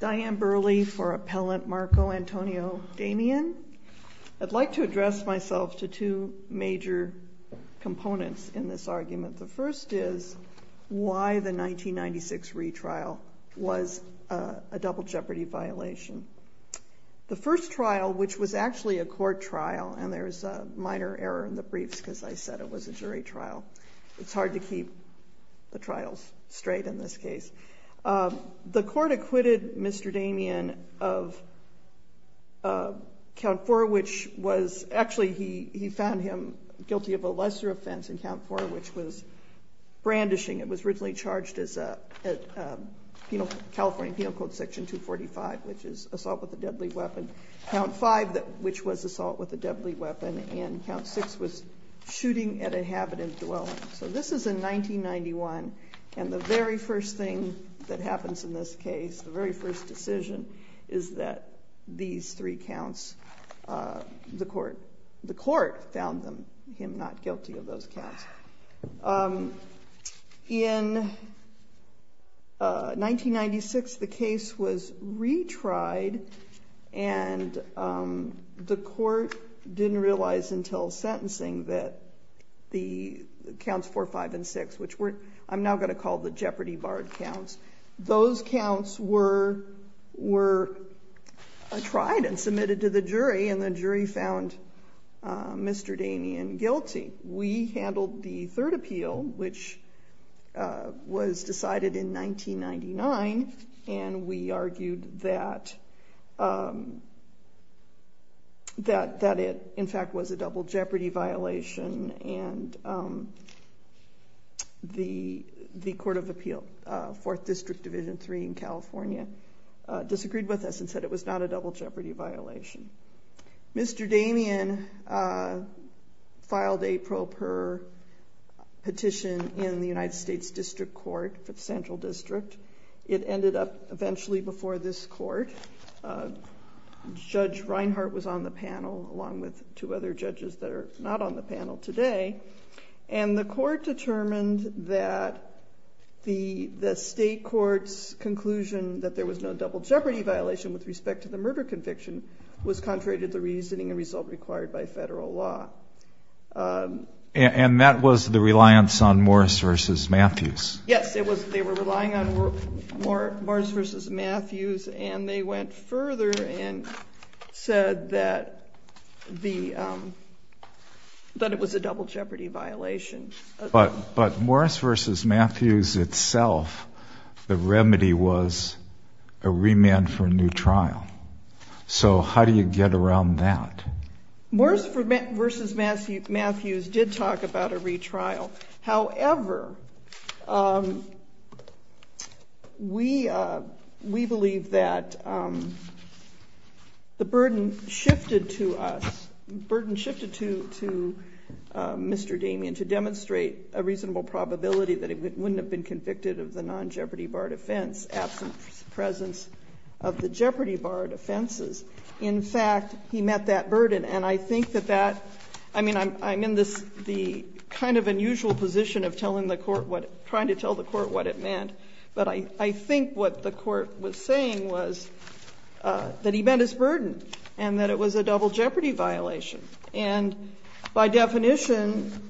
Diane Burley for Appellant Marco Antonio Damian. I'd like to address myself to two major components in this argument. The first is why the 1996 retrial was a double jeopardy violation. The first trial, which was actually a court trial, and there is a minor error in the briefs because I said it was a jury trial. So it's hard to keep the trials straight in this case. The court acquitted Mr. Damian of Count 4, which was actually he found him guilty of a lesser offense in Count 4, which was brandishing. It was originally charged as California Penal Code Section 245, which is assault with a deadly weapon. Count 5, which was assault with a deadly weapon. And Count 6 was shooting at a habitant dwelling. So this is in 1991. And the very first thing that happens in this case, the very first decision is that these three counts, the court, the court found him not guilty of those counts. In 1996, the case was retried, and the court didn't realize until sentencing that the Counts 4, 5, and 6, which I'm now going to call the Jeopardy Barred Counts, those counts were tried and submitted to the jury, and the jury found Mr. Damian guilty. We handled the third appeal, which was decided in 1999, and we argued that it, in fact, was a double jeopardy violation, and the Court of Appeal, Fourth District Division 3 in California, disagreed with us and said it was not a double jeopardy violation. Mr. Damian filed a pro per petition in the United States District Court, for the Central District. It ended up eventually before this court. Judge Reinhart was on the panel, along with two other judges that are not on the panel today, and the court determined that the state court's conclusion that there was no double jeopardy violation with respect to the murder conviction was contrary to the reasoning and result required by federal law. And that was the reliance on Morris v. Matthews. Yes, they were relying on Morris v. Matthews, and they went further and said that it was a double jeopardy violation. But Morris v. Matthews itself, the remedy was a remand for a new trial. So how do you get around that? Morris v. Matthews did talk about a retrial. However, we believe that the burden shifted to us, the burden shifted to Mr. Damian to demonstrate a reasonable probability that he wouldn't have been convicted of the non-Jeopardy Bar offense, absent presence of the Jeopardy Bar offenses. In fact, he met that burden. And I think that that, I mean, I'm in this, the kind of unusual position of telling the court what, trying to tell the court what it meant. But I think what the court was saying was that he met his burden and that it was a double jeopardy violation. And by definition,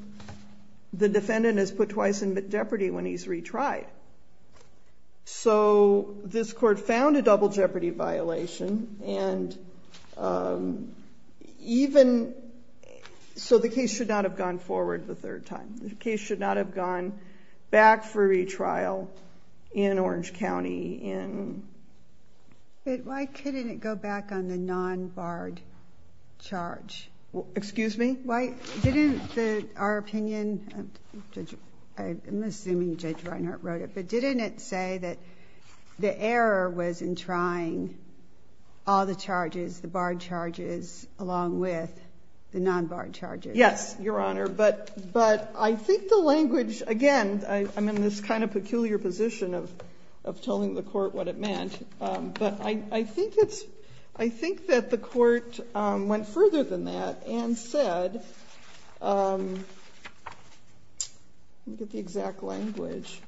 the defendant is put twice in jeopardy when he's retried. So this court found a double jeopardy violation. And even, so the case should not have gone forward the third time. The case should not have gone back for retrial in Orange County. But why couldn't it go back on the non-barred charge? Excuse me? Our opinion, I'm assuming Judge Reinhart wrote it, but didn't it say that the error was in trying all the charges, the barred charges, along with the non-barred charges? Yes, Your Honor. But I think the language, again, I'm in this kind of peculiar position of telling the court what it meant. But I think it's, I think that the court went further than that and said, let me get the exact language.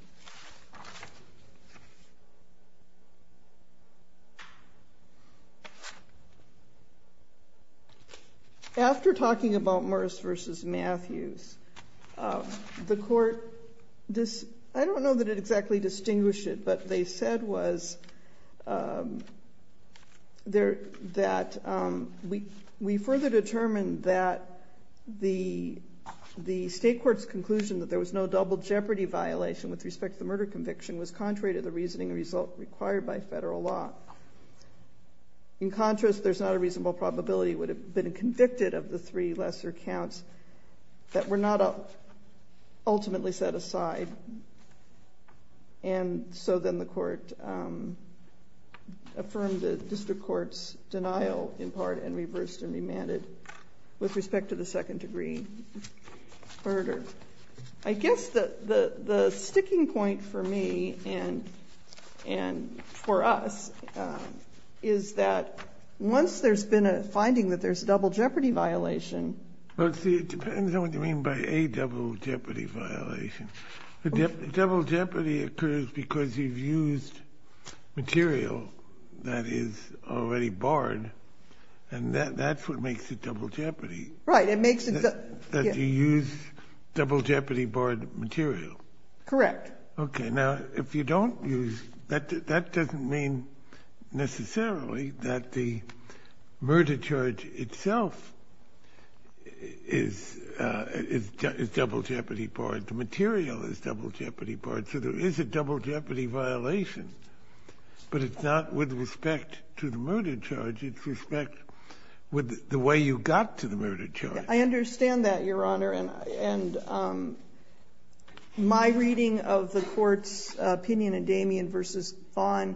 After talking about Morris v. Matthews, the court, I don't know that it exactly distinguished it, but they said was that we further determined that the state court's conclusion that there was no double jeopardy violation with respect to the murder conviction was contrary to the reasoning required by federal law. In contrast, there's not a reasonable probability it would have been convicted of the three lesser counts that were not ultimately set aside. And so then the court affirmed the district court's denial in part and reversed and remanded with respect to the second degree murder. I guess the sticking point for me and for us is that once there's been a finding that there's a double jeopardy violation, Well, see, it depends on what you mean by a double jeopardy violation. A double jeopardy occurs because you've used material that is already barred, and that's what makes it double jeopardy. Right, it makes it. That you use double jeopardy barred material. Correct. Okay, now, if you don't use, that doesn't mean necessarily that the murder charge itself is double jeopardy barred. The material is double jeopardy barred, so there is a double jeopardy violation, but it's not with respect to the murder charge. It's respect with the way you got to the murder charge. I understand that, Your Honor, and my reading of the court's opinion in Damien v. Vaughn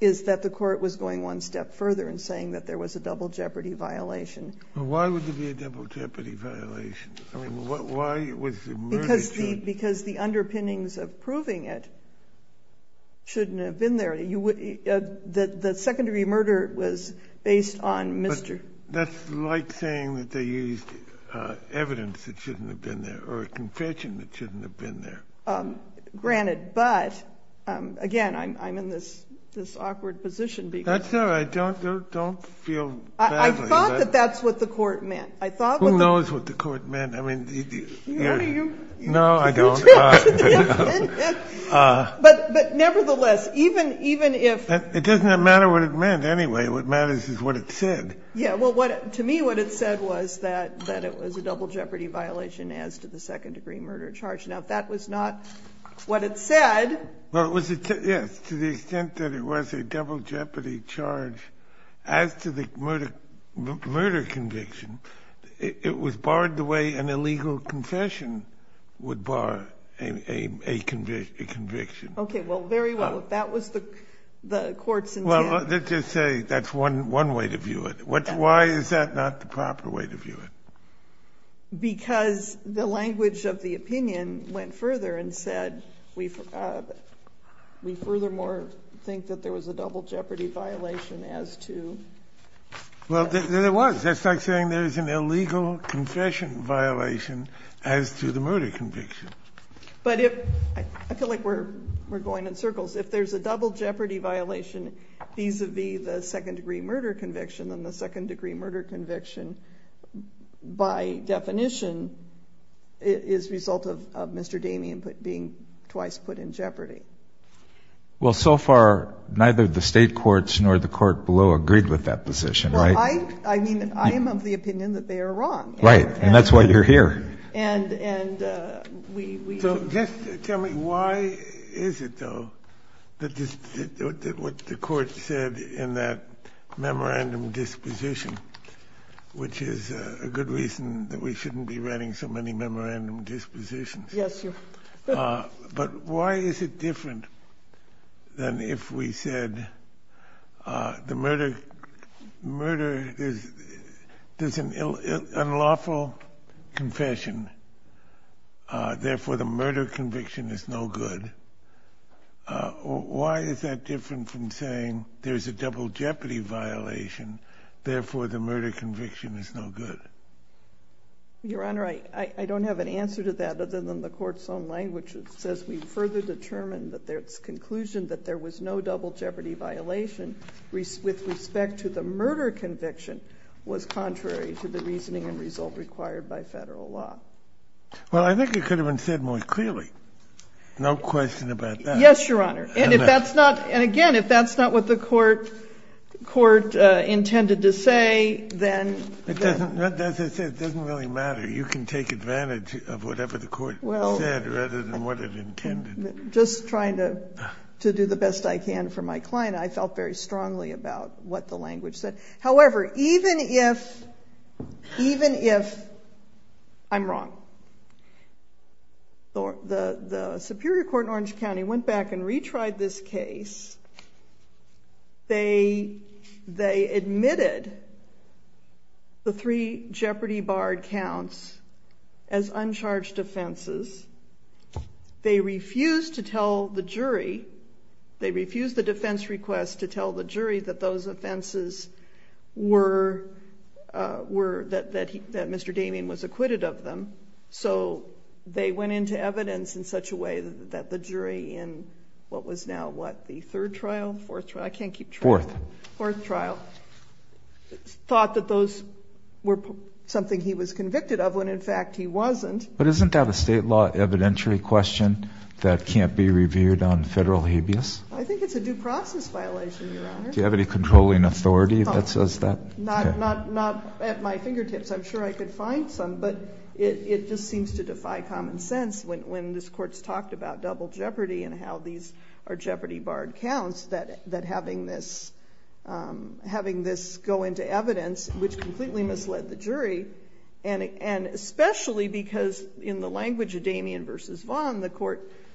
is that the court was going one step further in saying that there was a double jeopardy violation. Well, why would there be a double jeopardy violation? I mean, why was the murder charge? Because the underpinnings of proving it shouldn't have been there. The second degree murder was based on Mr. That's like saying that they used evidence that shouldn't have been there or a confession that shouldn't have been there. Granted, but again, I'm in this awkward position. That's all right. Don't feel badly. I thought that that's what the court meant. Who knows what the court meant? No, I don't. But nevertheless, even if It doesn't matter what it meant anyway. What matters is what it said. Yeah, well, to me what it said was that it was a double jeopardy violation as to the second degree murder charge. Now, if that was not what it said. Well, it was. Yes. To the extent that it was a double jeopardy charge as to the murder conviction, it was barred the way an illegal confession would bar a conviction. Okay. Well, very well. If that was the court's intent. Well, let's just say that's one way to view it. Why is that not the proper way to view it? Because the language of the opinion went further and said we furthermore think that there was a double jeopardy violation as to. Well, there was. That's like saying there's an illegal confession violation as to the murder conviction. But I feel like we're going in circles. If there's a double jeopardy violation vis-a-vis the second degree murder conviction, then the second degree murder conviction, by definition, is the result of Mr. Damien being twice put in jeopardy. Well, so far, neither the state courts nor the court below agreed with that position, right? Well, I mean, I am of the opinion that they are wrong. Right. And that's why you're here. So just tell me, why is it, though, that what the court said in that memorandum disposition, which is a good reason that we shouldn't be writing so many memorandum dispositions. Yes, sir. But why is it different than if we said the murder is an unlawful confession, therefore the murder conviction is no good? Why is that different from saying there's a double jeopardy violation, therefore the murder conviction is no good? Your Honor, I don't have an answer to that other than the court's own language. It says we've further determined that there's conclusion that there was no double jeopardy violation with respect to the murder conviction was contrary to the reasoning and result required by federal law. Well, I think it could have been said more clearly. No question about that. Yes, Your Honor. And again, if that's not what the court intended to say, then... As I said, it doesn't really matter. You can take advantage of whatever the court said rather than what it intended. Just trying to do the best I can for my client, I felt very strongly about what the language said. However, even if I'm wrong, the Superior Court in Orange County went back and retried this case. They admitted the three jeopardy barred counts as uncharged offenses. They refused to tell the jury. They refused the defense request to tell the jury that those offenses were... that Mr. Damien was acquitted of them. So they went into evidence in such a way that the jury in what was now what? The third trial? Fourth trial? I can't keep track. Fourth. Fourth trial. Thought that those were something he was convicted of when in fact he wasn't. But isn't that a state law evidentiary question that can't be reviewed on federal habeas? I think it's a due process violation, Your Honor. Do you have any controlling authority that says that? Not at my fingertips. I'm sure I could find some, but it just seems to defy common sense. When this Court's talked about double jeopardy and how these are jeopardy barred counts, that having this go into evidence, which completely misled the jury, and especially because in the language of Damien v. Vaughn,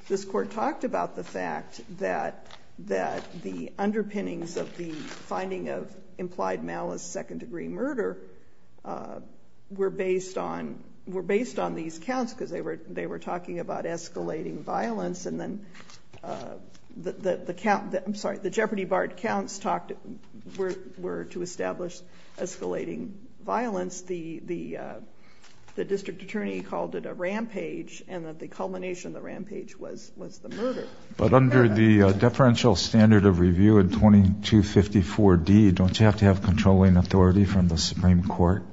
this Court talked about the fact that the underpinnings of the finding of implied malice second-degree murder were based on these counts because they were talking about escalating violence, and then the jeopardy barred counts were to establish escalating violence. The district attorney called it a rampage and that the culmination of the rampage was the murder. But under the deferential standard of review in 2254D, don't you have to have controlling authority from the Supreme Court?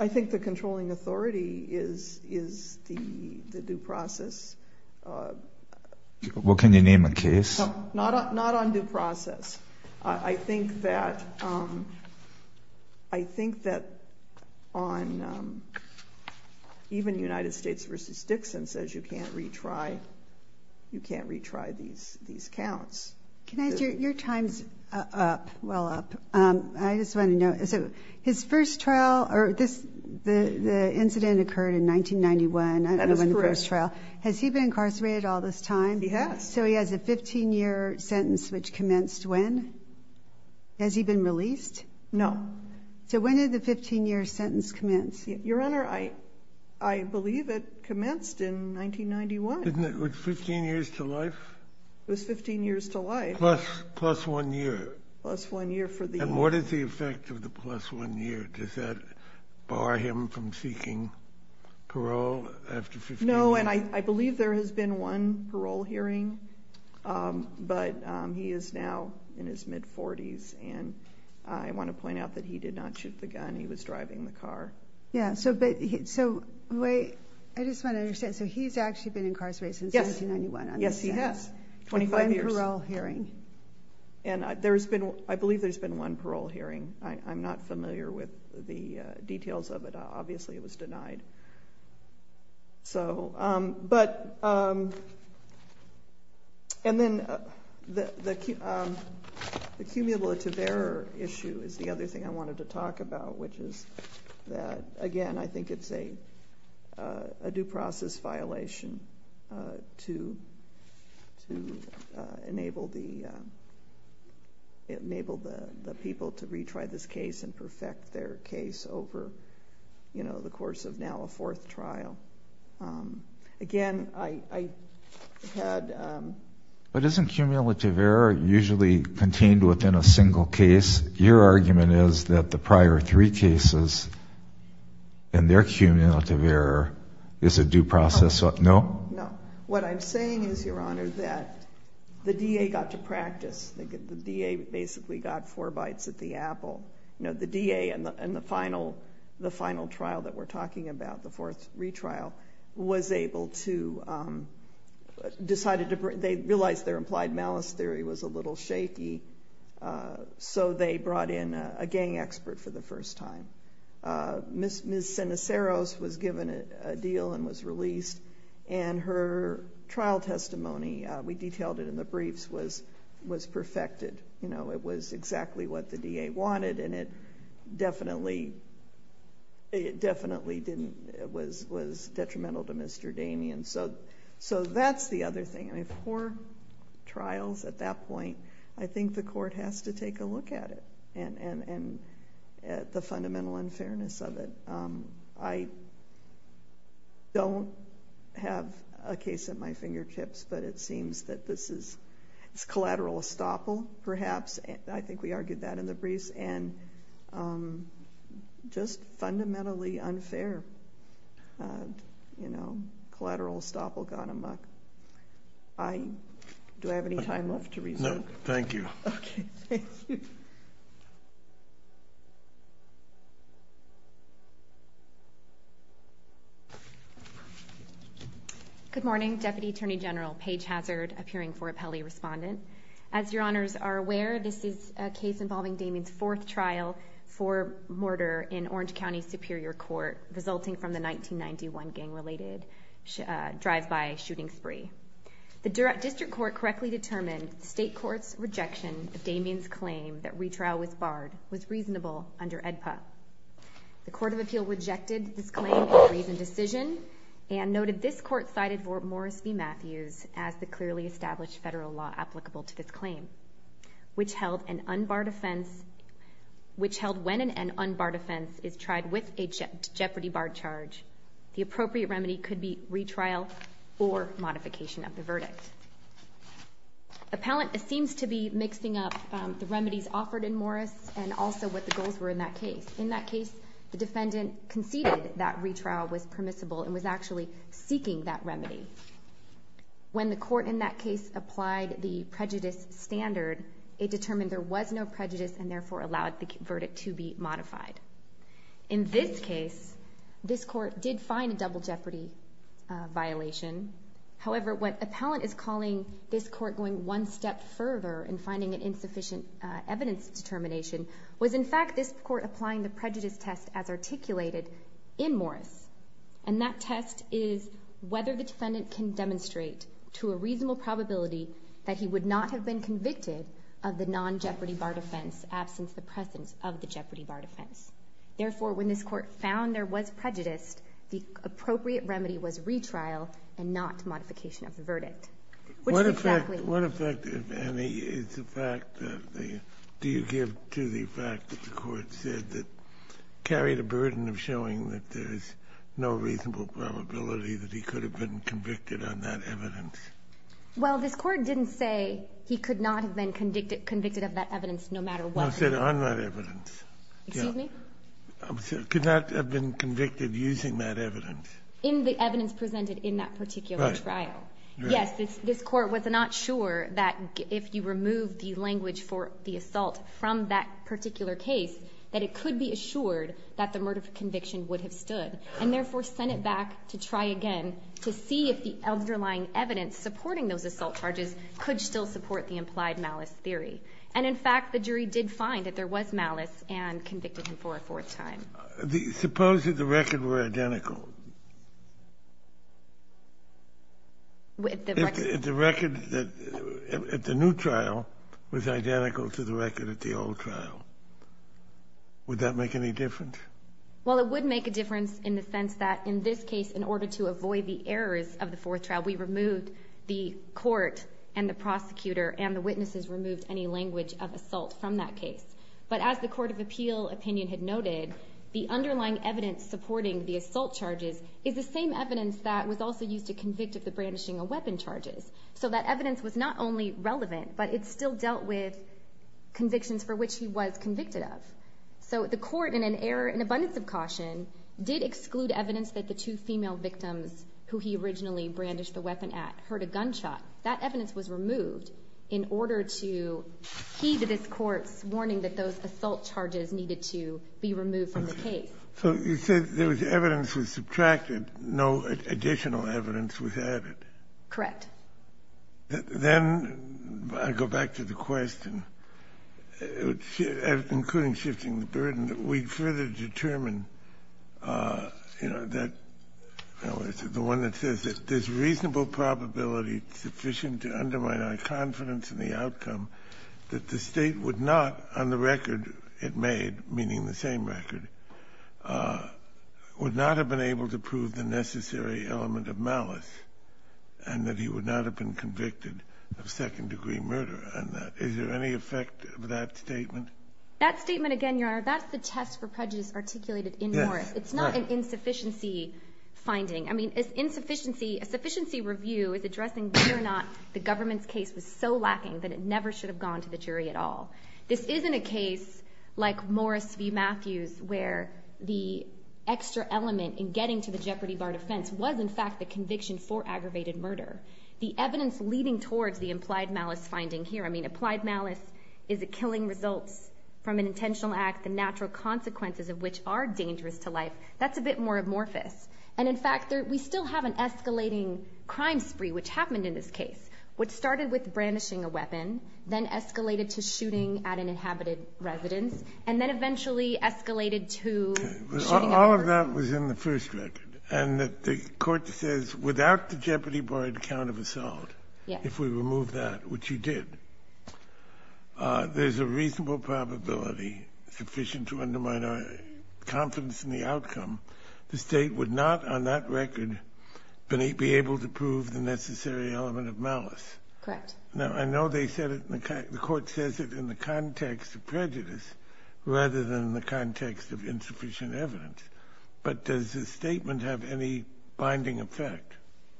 I think the controlling authority is the due process. Well, can you name a case? Not on due process. I think that even United States v. Dixon says you can't retry these counts. Can I ask you, your time's up, well up. I just want to know, his first trial, the incident occurred in 1991. That is correct. Has he been incarcerated all this time? He has. So he has a 15-year sentence which commenced when? Has he been released? No. So when did the 15-year sentence commence? Your Honor, I believe it commenced in 1991. Wasn't it 15 years to life? It was 15 years to life. Plus one year. Plus one year for the year. And what is the effect of the plus one year? Does that bar him from seeking parole after 15 years? No, and I believe there has been one parole hearing, but he is now in his mid-40s, and I want to point out that he did not shoot the gun, he was driving the car. Yeah, so I just want to understand, so he's actually been incarcerated since 1991. Yes, he has. 25 years. One parole hearing. And I believe there's been one parole hearing. I'm not familiar with the details of it. Obviously it was denied. So, but, and then the cumulative error issue is the other thing I wanted to talk about, which is that, again, I think it's a due process violation to enable the people to retry this case and perfect their case over, you know, the course of now a fourth trial. Again, I had... But isn't cumulative error usually contained within a single case? Your argument is that the prior three cases and their cumulative error is a due process? No? No. What I'm saying is, Your Honor, that the DA got to practice. The DA basically got four bites at the apple. You know, the DA in the final trial that we're talking about, the fourth retrial, was able to... decided to... They realized their implied malice theory was a little shaky, so they brought in a gang expert for the first time. Ms. Ceniceros was given a deal and was released, and her trial testimony, we detailed it in the briefs, was perfected. You know, it was exactly what the DA wanted, and it definitely didn't... It was detrimental to Mr. Damien. So that's the other thing. I mean, four trials at that point, I think the court has to take a look at it and the fundamental unfairness of it. I don't have a case at my fingertips, but it seems that this is collateral estoppel, perhaps. I think we argued that in the briefs. And just fundamentally unfair, you know, collateral estoppel gone amuck. Do I have any time left to resume? No, thank you. Okay, thank you. Good morning, Deputy Attorney General Paige Hazard, appearing for appellee respondent. As your honors are aware, this is a case involving Damien's fourth trial for murder in Orange County Superior Court, resulting from the 1991 gang-related drive-by shooting spree. The district court correctly determined the state court's rejection of Damien's claim that retrial was barred was reasonable under AEDPA. The Court of Appeal rejected this claim in the reasoned decision and noted this court cited Fort Morris v. Matthews as the clearly established federal law applicable to this claim, which held when an unbarred offense is tried with a jeopardy bar charge, the appropriate remedy could be retrial or modification of the verdict. Appellant seems to be mixing up the remedies offered in Morris and also what the goals were in that case. In that case, the defendant conceded that retrial was permissible and was actually seeking that remedy. When the court in that case applied the prejudice standard, it determined there was no prejudice and therefore allowed the verdict to be modified. In this case, this court did find a double jeopardy violation. However, what appellant is calling this court going one step further in finding an insufficient evidence determination was in fact this court applying the prejudice test as articulated in Morris. And that test is whether the defendant can demonstrate to a reasonable probability that he would not have been convicted of the non-jeopardy bar defense absence of the presence of the jeopardy bar defense. Therefore, when this court found there was prejudice, the appropriate remedy was retrial and not modification of the verdict. Which is exactly... What effect, Annie, is the fact that the... Do you give to the fact that the court said that carried a burden of showing that there's no reasonable probability that he could have been convicted on that evidence? Well, this court didn't say he could not have been convicted of that evidence no matter what... No, I said on that evidence. Excuse me? Could not have been convicted using that evidence. In the evidence presented in that particular trial. Yes, this court was not sure that if you remove the language for the assault from that particular case that it could be assured that the murder conviction would have stood and therefore sent it back to try again to see if the underlying evidence supporting those assault charges could still support the implied malice theory. And in fact, the jury did find that there was malice and convicted him for a fourth time. Suppose that the record were identical. The record at the new trial was identical to the record at the old trial. Would that make any difference? Well, it would make a difference in the sense that in this case, in order to avoid the errors of the fourth trial, we removed the court and the prosecutor and the witnesses removed any language of assault from that case. But as the court of appeal opinion had noted, the underlying evidence supporting the assault charges is the same evidence that was also used to convict of the brandishing of weapon charges. So that evidence was not only relevant, but it still dealt with convictions for which he was convicted of. So the court, in an error in abundance of caution, did exclude evidence that the two female victims who he originally brandished the weapon at heard a gunshot. That evidence was removed in order to heed this court's warning that those assault charges needed to be removed from the case. So you said there was evidence that was subtracted, no additional evidence was added. Correct. Then I go back to the question, including shifting the burden, that we'd further determine, you know, that the one that says that there's reasonable probability sufficient to undermine our confidence in the outcome that the state would not, on the record it made, meaning the same record, would not have been able to prove the necessary element of malice and that he would not have been convicted of second-degree murder. Is there any effect of that statement? That statement, again, Your Honor, that's the test for prejudice articulated in Moore. It's not an insufficiency finding. I mean, a sufficiency review is addressing whether or not the government's case was so lacking that it never should have gone to the jury at all. This isn't a case like Morris v. Matthews where the extra element in getting to the jeopardy bar defense was, in fact, the conviction for aggravated murder. The evidence leading towards the implied malice finding here, I mean, applied malice is the killing results from an intentional act, the natural consequences of which are dangerous to life, that's a bit more amorphous. And, in fact, we still have an escalating crime spree which happened in this case, which started with brandishing a weapon, then escalated to shooting at an inhabited residence, and then eventually escalated to shooting at murder. All of that was in the first record. And the court says, without the jeopardy barred count of assault, if we remove that, which you did, there's a reasonable probability sufficient to undermine our confidence in the outcome. The state would not, on that record, be able to prove the necessary element of malice. Correct. Now, I know the court says it in the context of prejudice rather than in the context of insufficient evidence, but does the statement have any binding effect?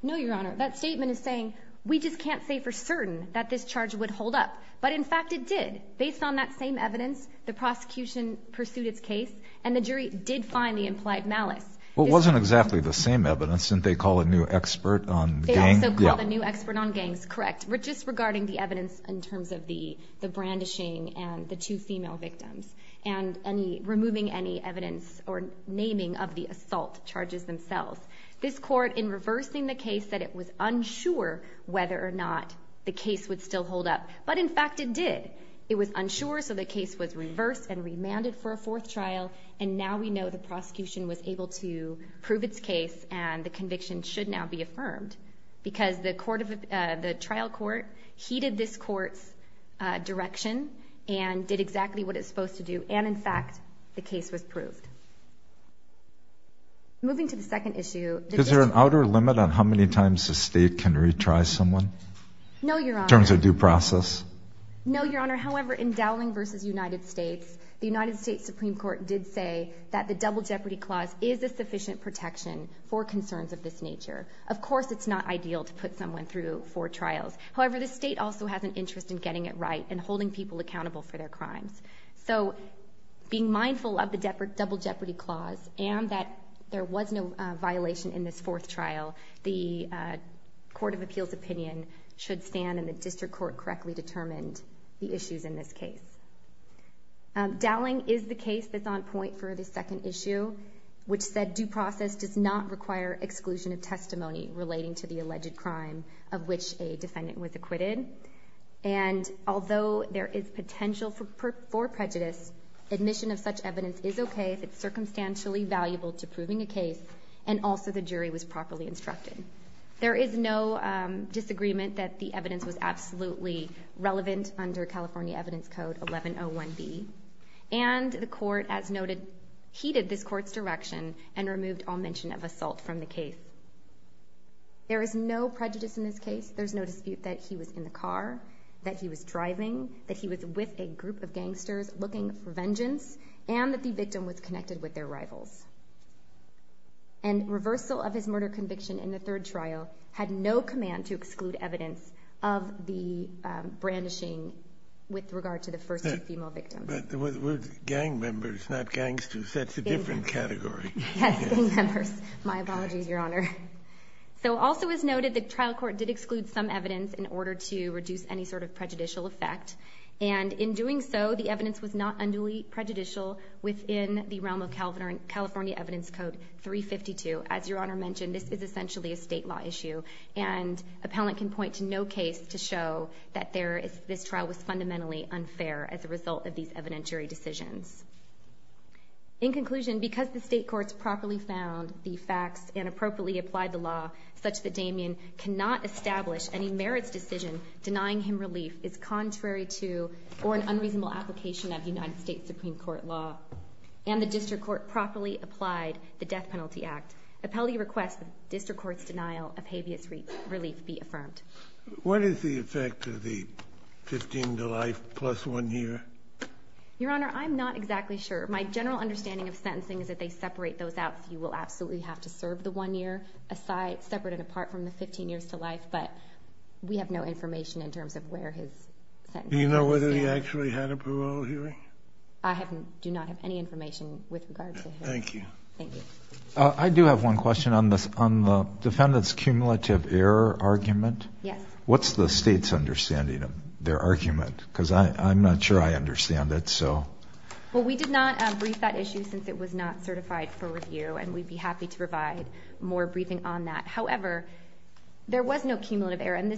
No, Your Honor. That statement is saying, we just can't say for certain that this charge would hold up. But, in fact, it did. Based on that same evidence, the prosecution pursued its case, and the jury did find the implied malice. Well, it wasn't exactly the same evidence. Didn't they call a new expert on gangs? They also called a new expert on gangs. Correct. Just regarding the evidence in terms of the brandishing and the two female victims and removing any evidence or naming of the assault charges themselves. This court, in reversing the case, said it was unsure whether or not the case would still hold up. But, in fact, it did. It was unsure, so the case was reversed and remanded for a fourth trial, and now we know the prosecution was able to prove its case and the conviction should now be affirmed because the trial court heeded this court's direction and did exactly what it's supposed to do, and, in fact, the case was proved. Moving to the second issue. Is there an outer limit on how many times a state can retry someone? No, Your Honor. In terms of due process? No, Your Honor. However, in Dowling v. United States, the United States Supreme Court did say that the Double Jeopardy Clause is a sufficient protection for concerns of this nature. Of course it's not ideal to put someone through four trials. However, the state also has an interest in getting it right and holding people accountable for their crimes. So being mindful of the Double Jeopardy Clause and that there was no violation in this fourth trial, the Court of Appeals opinion should stand that the district court correctly determined the issues in this case. Dowling is the case that's on point for the second issue, which said due process does not require exclusion of testimony relating to the alleged crime of which a defendant was acquitted, and although there is potential for prejudice, admission of such evidence is okay if it's circumstantially valuable to proving a case and also the jury was properly instructed. There is no disagreement that the evidence was absolutely relevant under California Evidence Code 1101B, and the court, as noted, heeded this court's direction and removed all mention of assault from the case. There is no prejudice in this case. There's no dispute that he was in the car, that he was driving, that he was with a group of gangsters looking for vengeance, and that the victim was connected with their rivals. And reversal of his murder conviction in the third trial had no command to exclude evidence of the brandishing with regard to the first two female victims. But we're gang members, not gangsters. That's a different category. Yes, gang members. My apologies, Your Honor. So also as noted, the trial court did exclude some evidence in order to reduce any sort of prejudicial effect, and in doing so, the evidence was not unduly prejudicial within the realm of California Evidence Code 352. As Your Honor mentioned, this is essentially a state law issue, and appellant can point to no case to show that this trial was fundamentally unfair as a result of these evidentiary decisions. In conclusion, because the state courts properly found the facts and appropriately applied the law such that Damien cannot establish any merits decision denying him relief is contrary to or an unreasonable application of United States Supreme Court law, and the district court properly applied the Death Penalty Act, appellee requests the district court's denial of habeas relief be affirmed. What is the effect of the 15 to life plus one year? Your Honor, I'm not exactly sure. My general understanding of sentencing is that they separate those out, so you will absolutely have to serve the one year separate and apart from the 15 years to life, but we have no information in terms of where his sentence is. Do you know whether he actually had a parole hearing? I do not have any information with regard to him. Thank you. Thank you. I do have one question on the defendant's cumulative error argument. Yes. What's the state's understanding of their argument? Because I'm not sure I understand it, so. Well, we did not brief that issue since it was not certified for review, and we'd be happy to provide more briefing on that. However, there was no cumulative error, and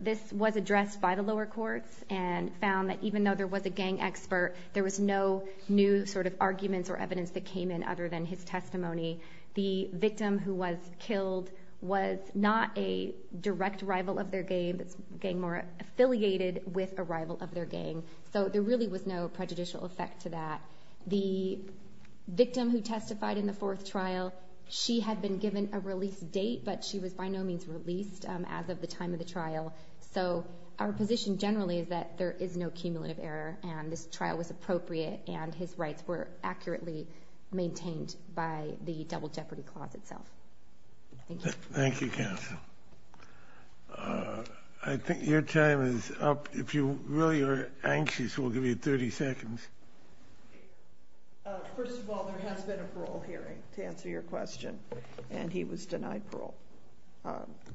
this was addressed by the lower courts and found that even though there was a gang expert, there was no new sort of arguments or evidence that came in other than his testimony. The victim who was killed was not a direct rival of their gang, this gang more affiliated with a rival of their gang, so there really was no prejudicial effect to that. The victim who testified in the fourth trial, she had been given a release date, but she was by no means released as of the time of the trial, so our position generally is that there is no cumulative error and this trial was appropriate and his rights were accurately maintained by the double jeopardy clause itself. Thank you. Thank you, counsel. I think your time is up. If you really are anxious, we'll give you 30 seconds. First of all, there has been a parole hearing, to answer your question, and he was denied parole,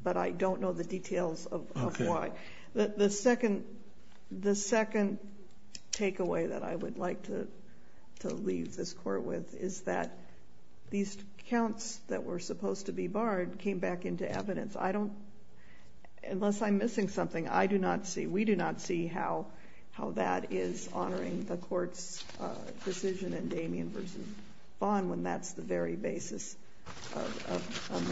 but I don't know the details of why. The second takeaway that I would like to leave this court with is that these accounts that were supposed to be barred came back into evidence. Unless I'm missing something, I do not see, we do not see how that is honoring the court's decision and Damien v. Bond when that's the very basis of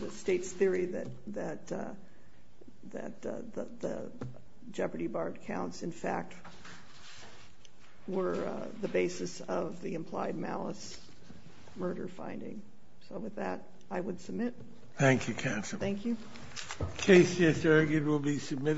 the state's theory that the jeopardy barred accounts, in fact, were the basis of the implied malice murder finding. So with that, I would submit. Thank you, counsel. Thank you.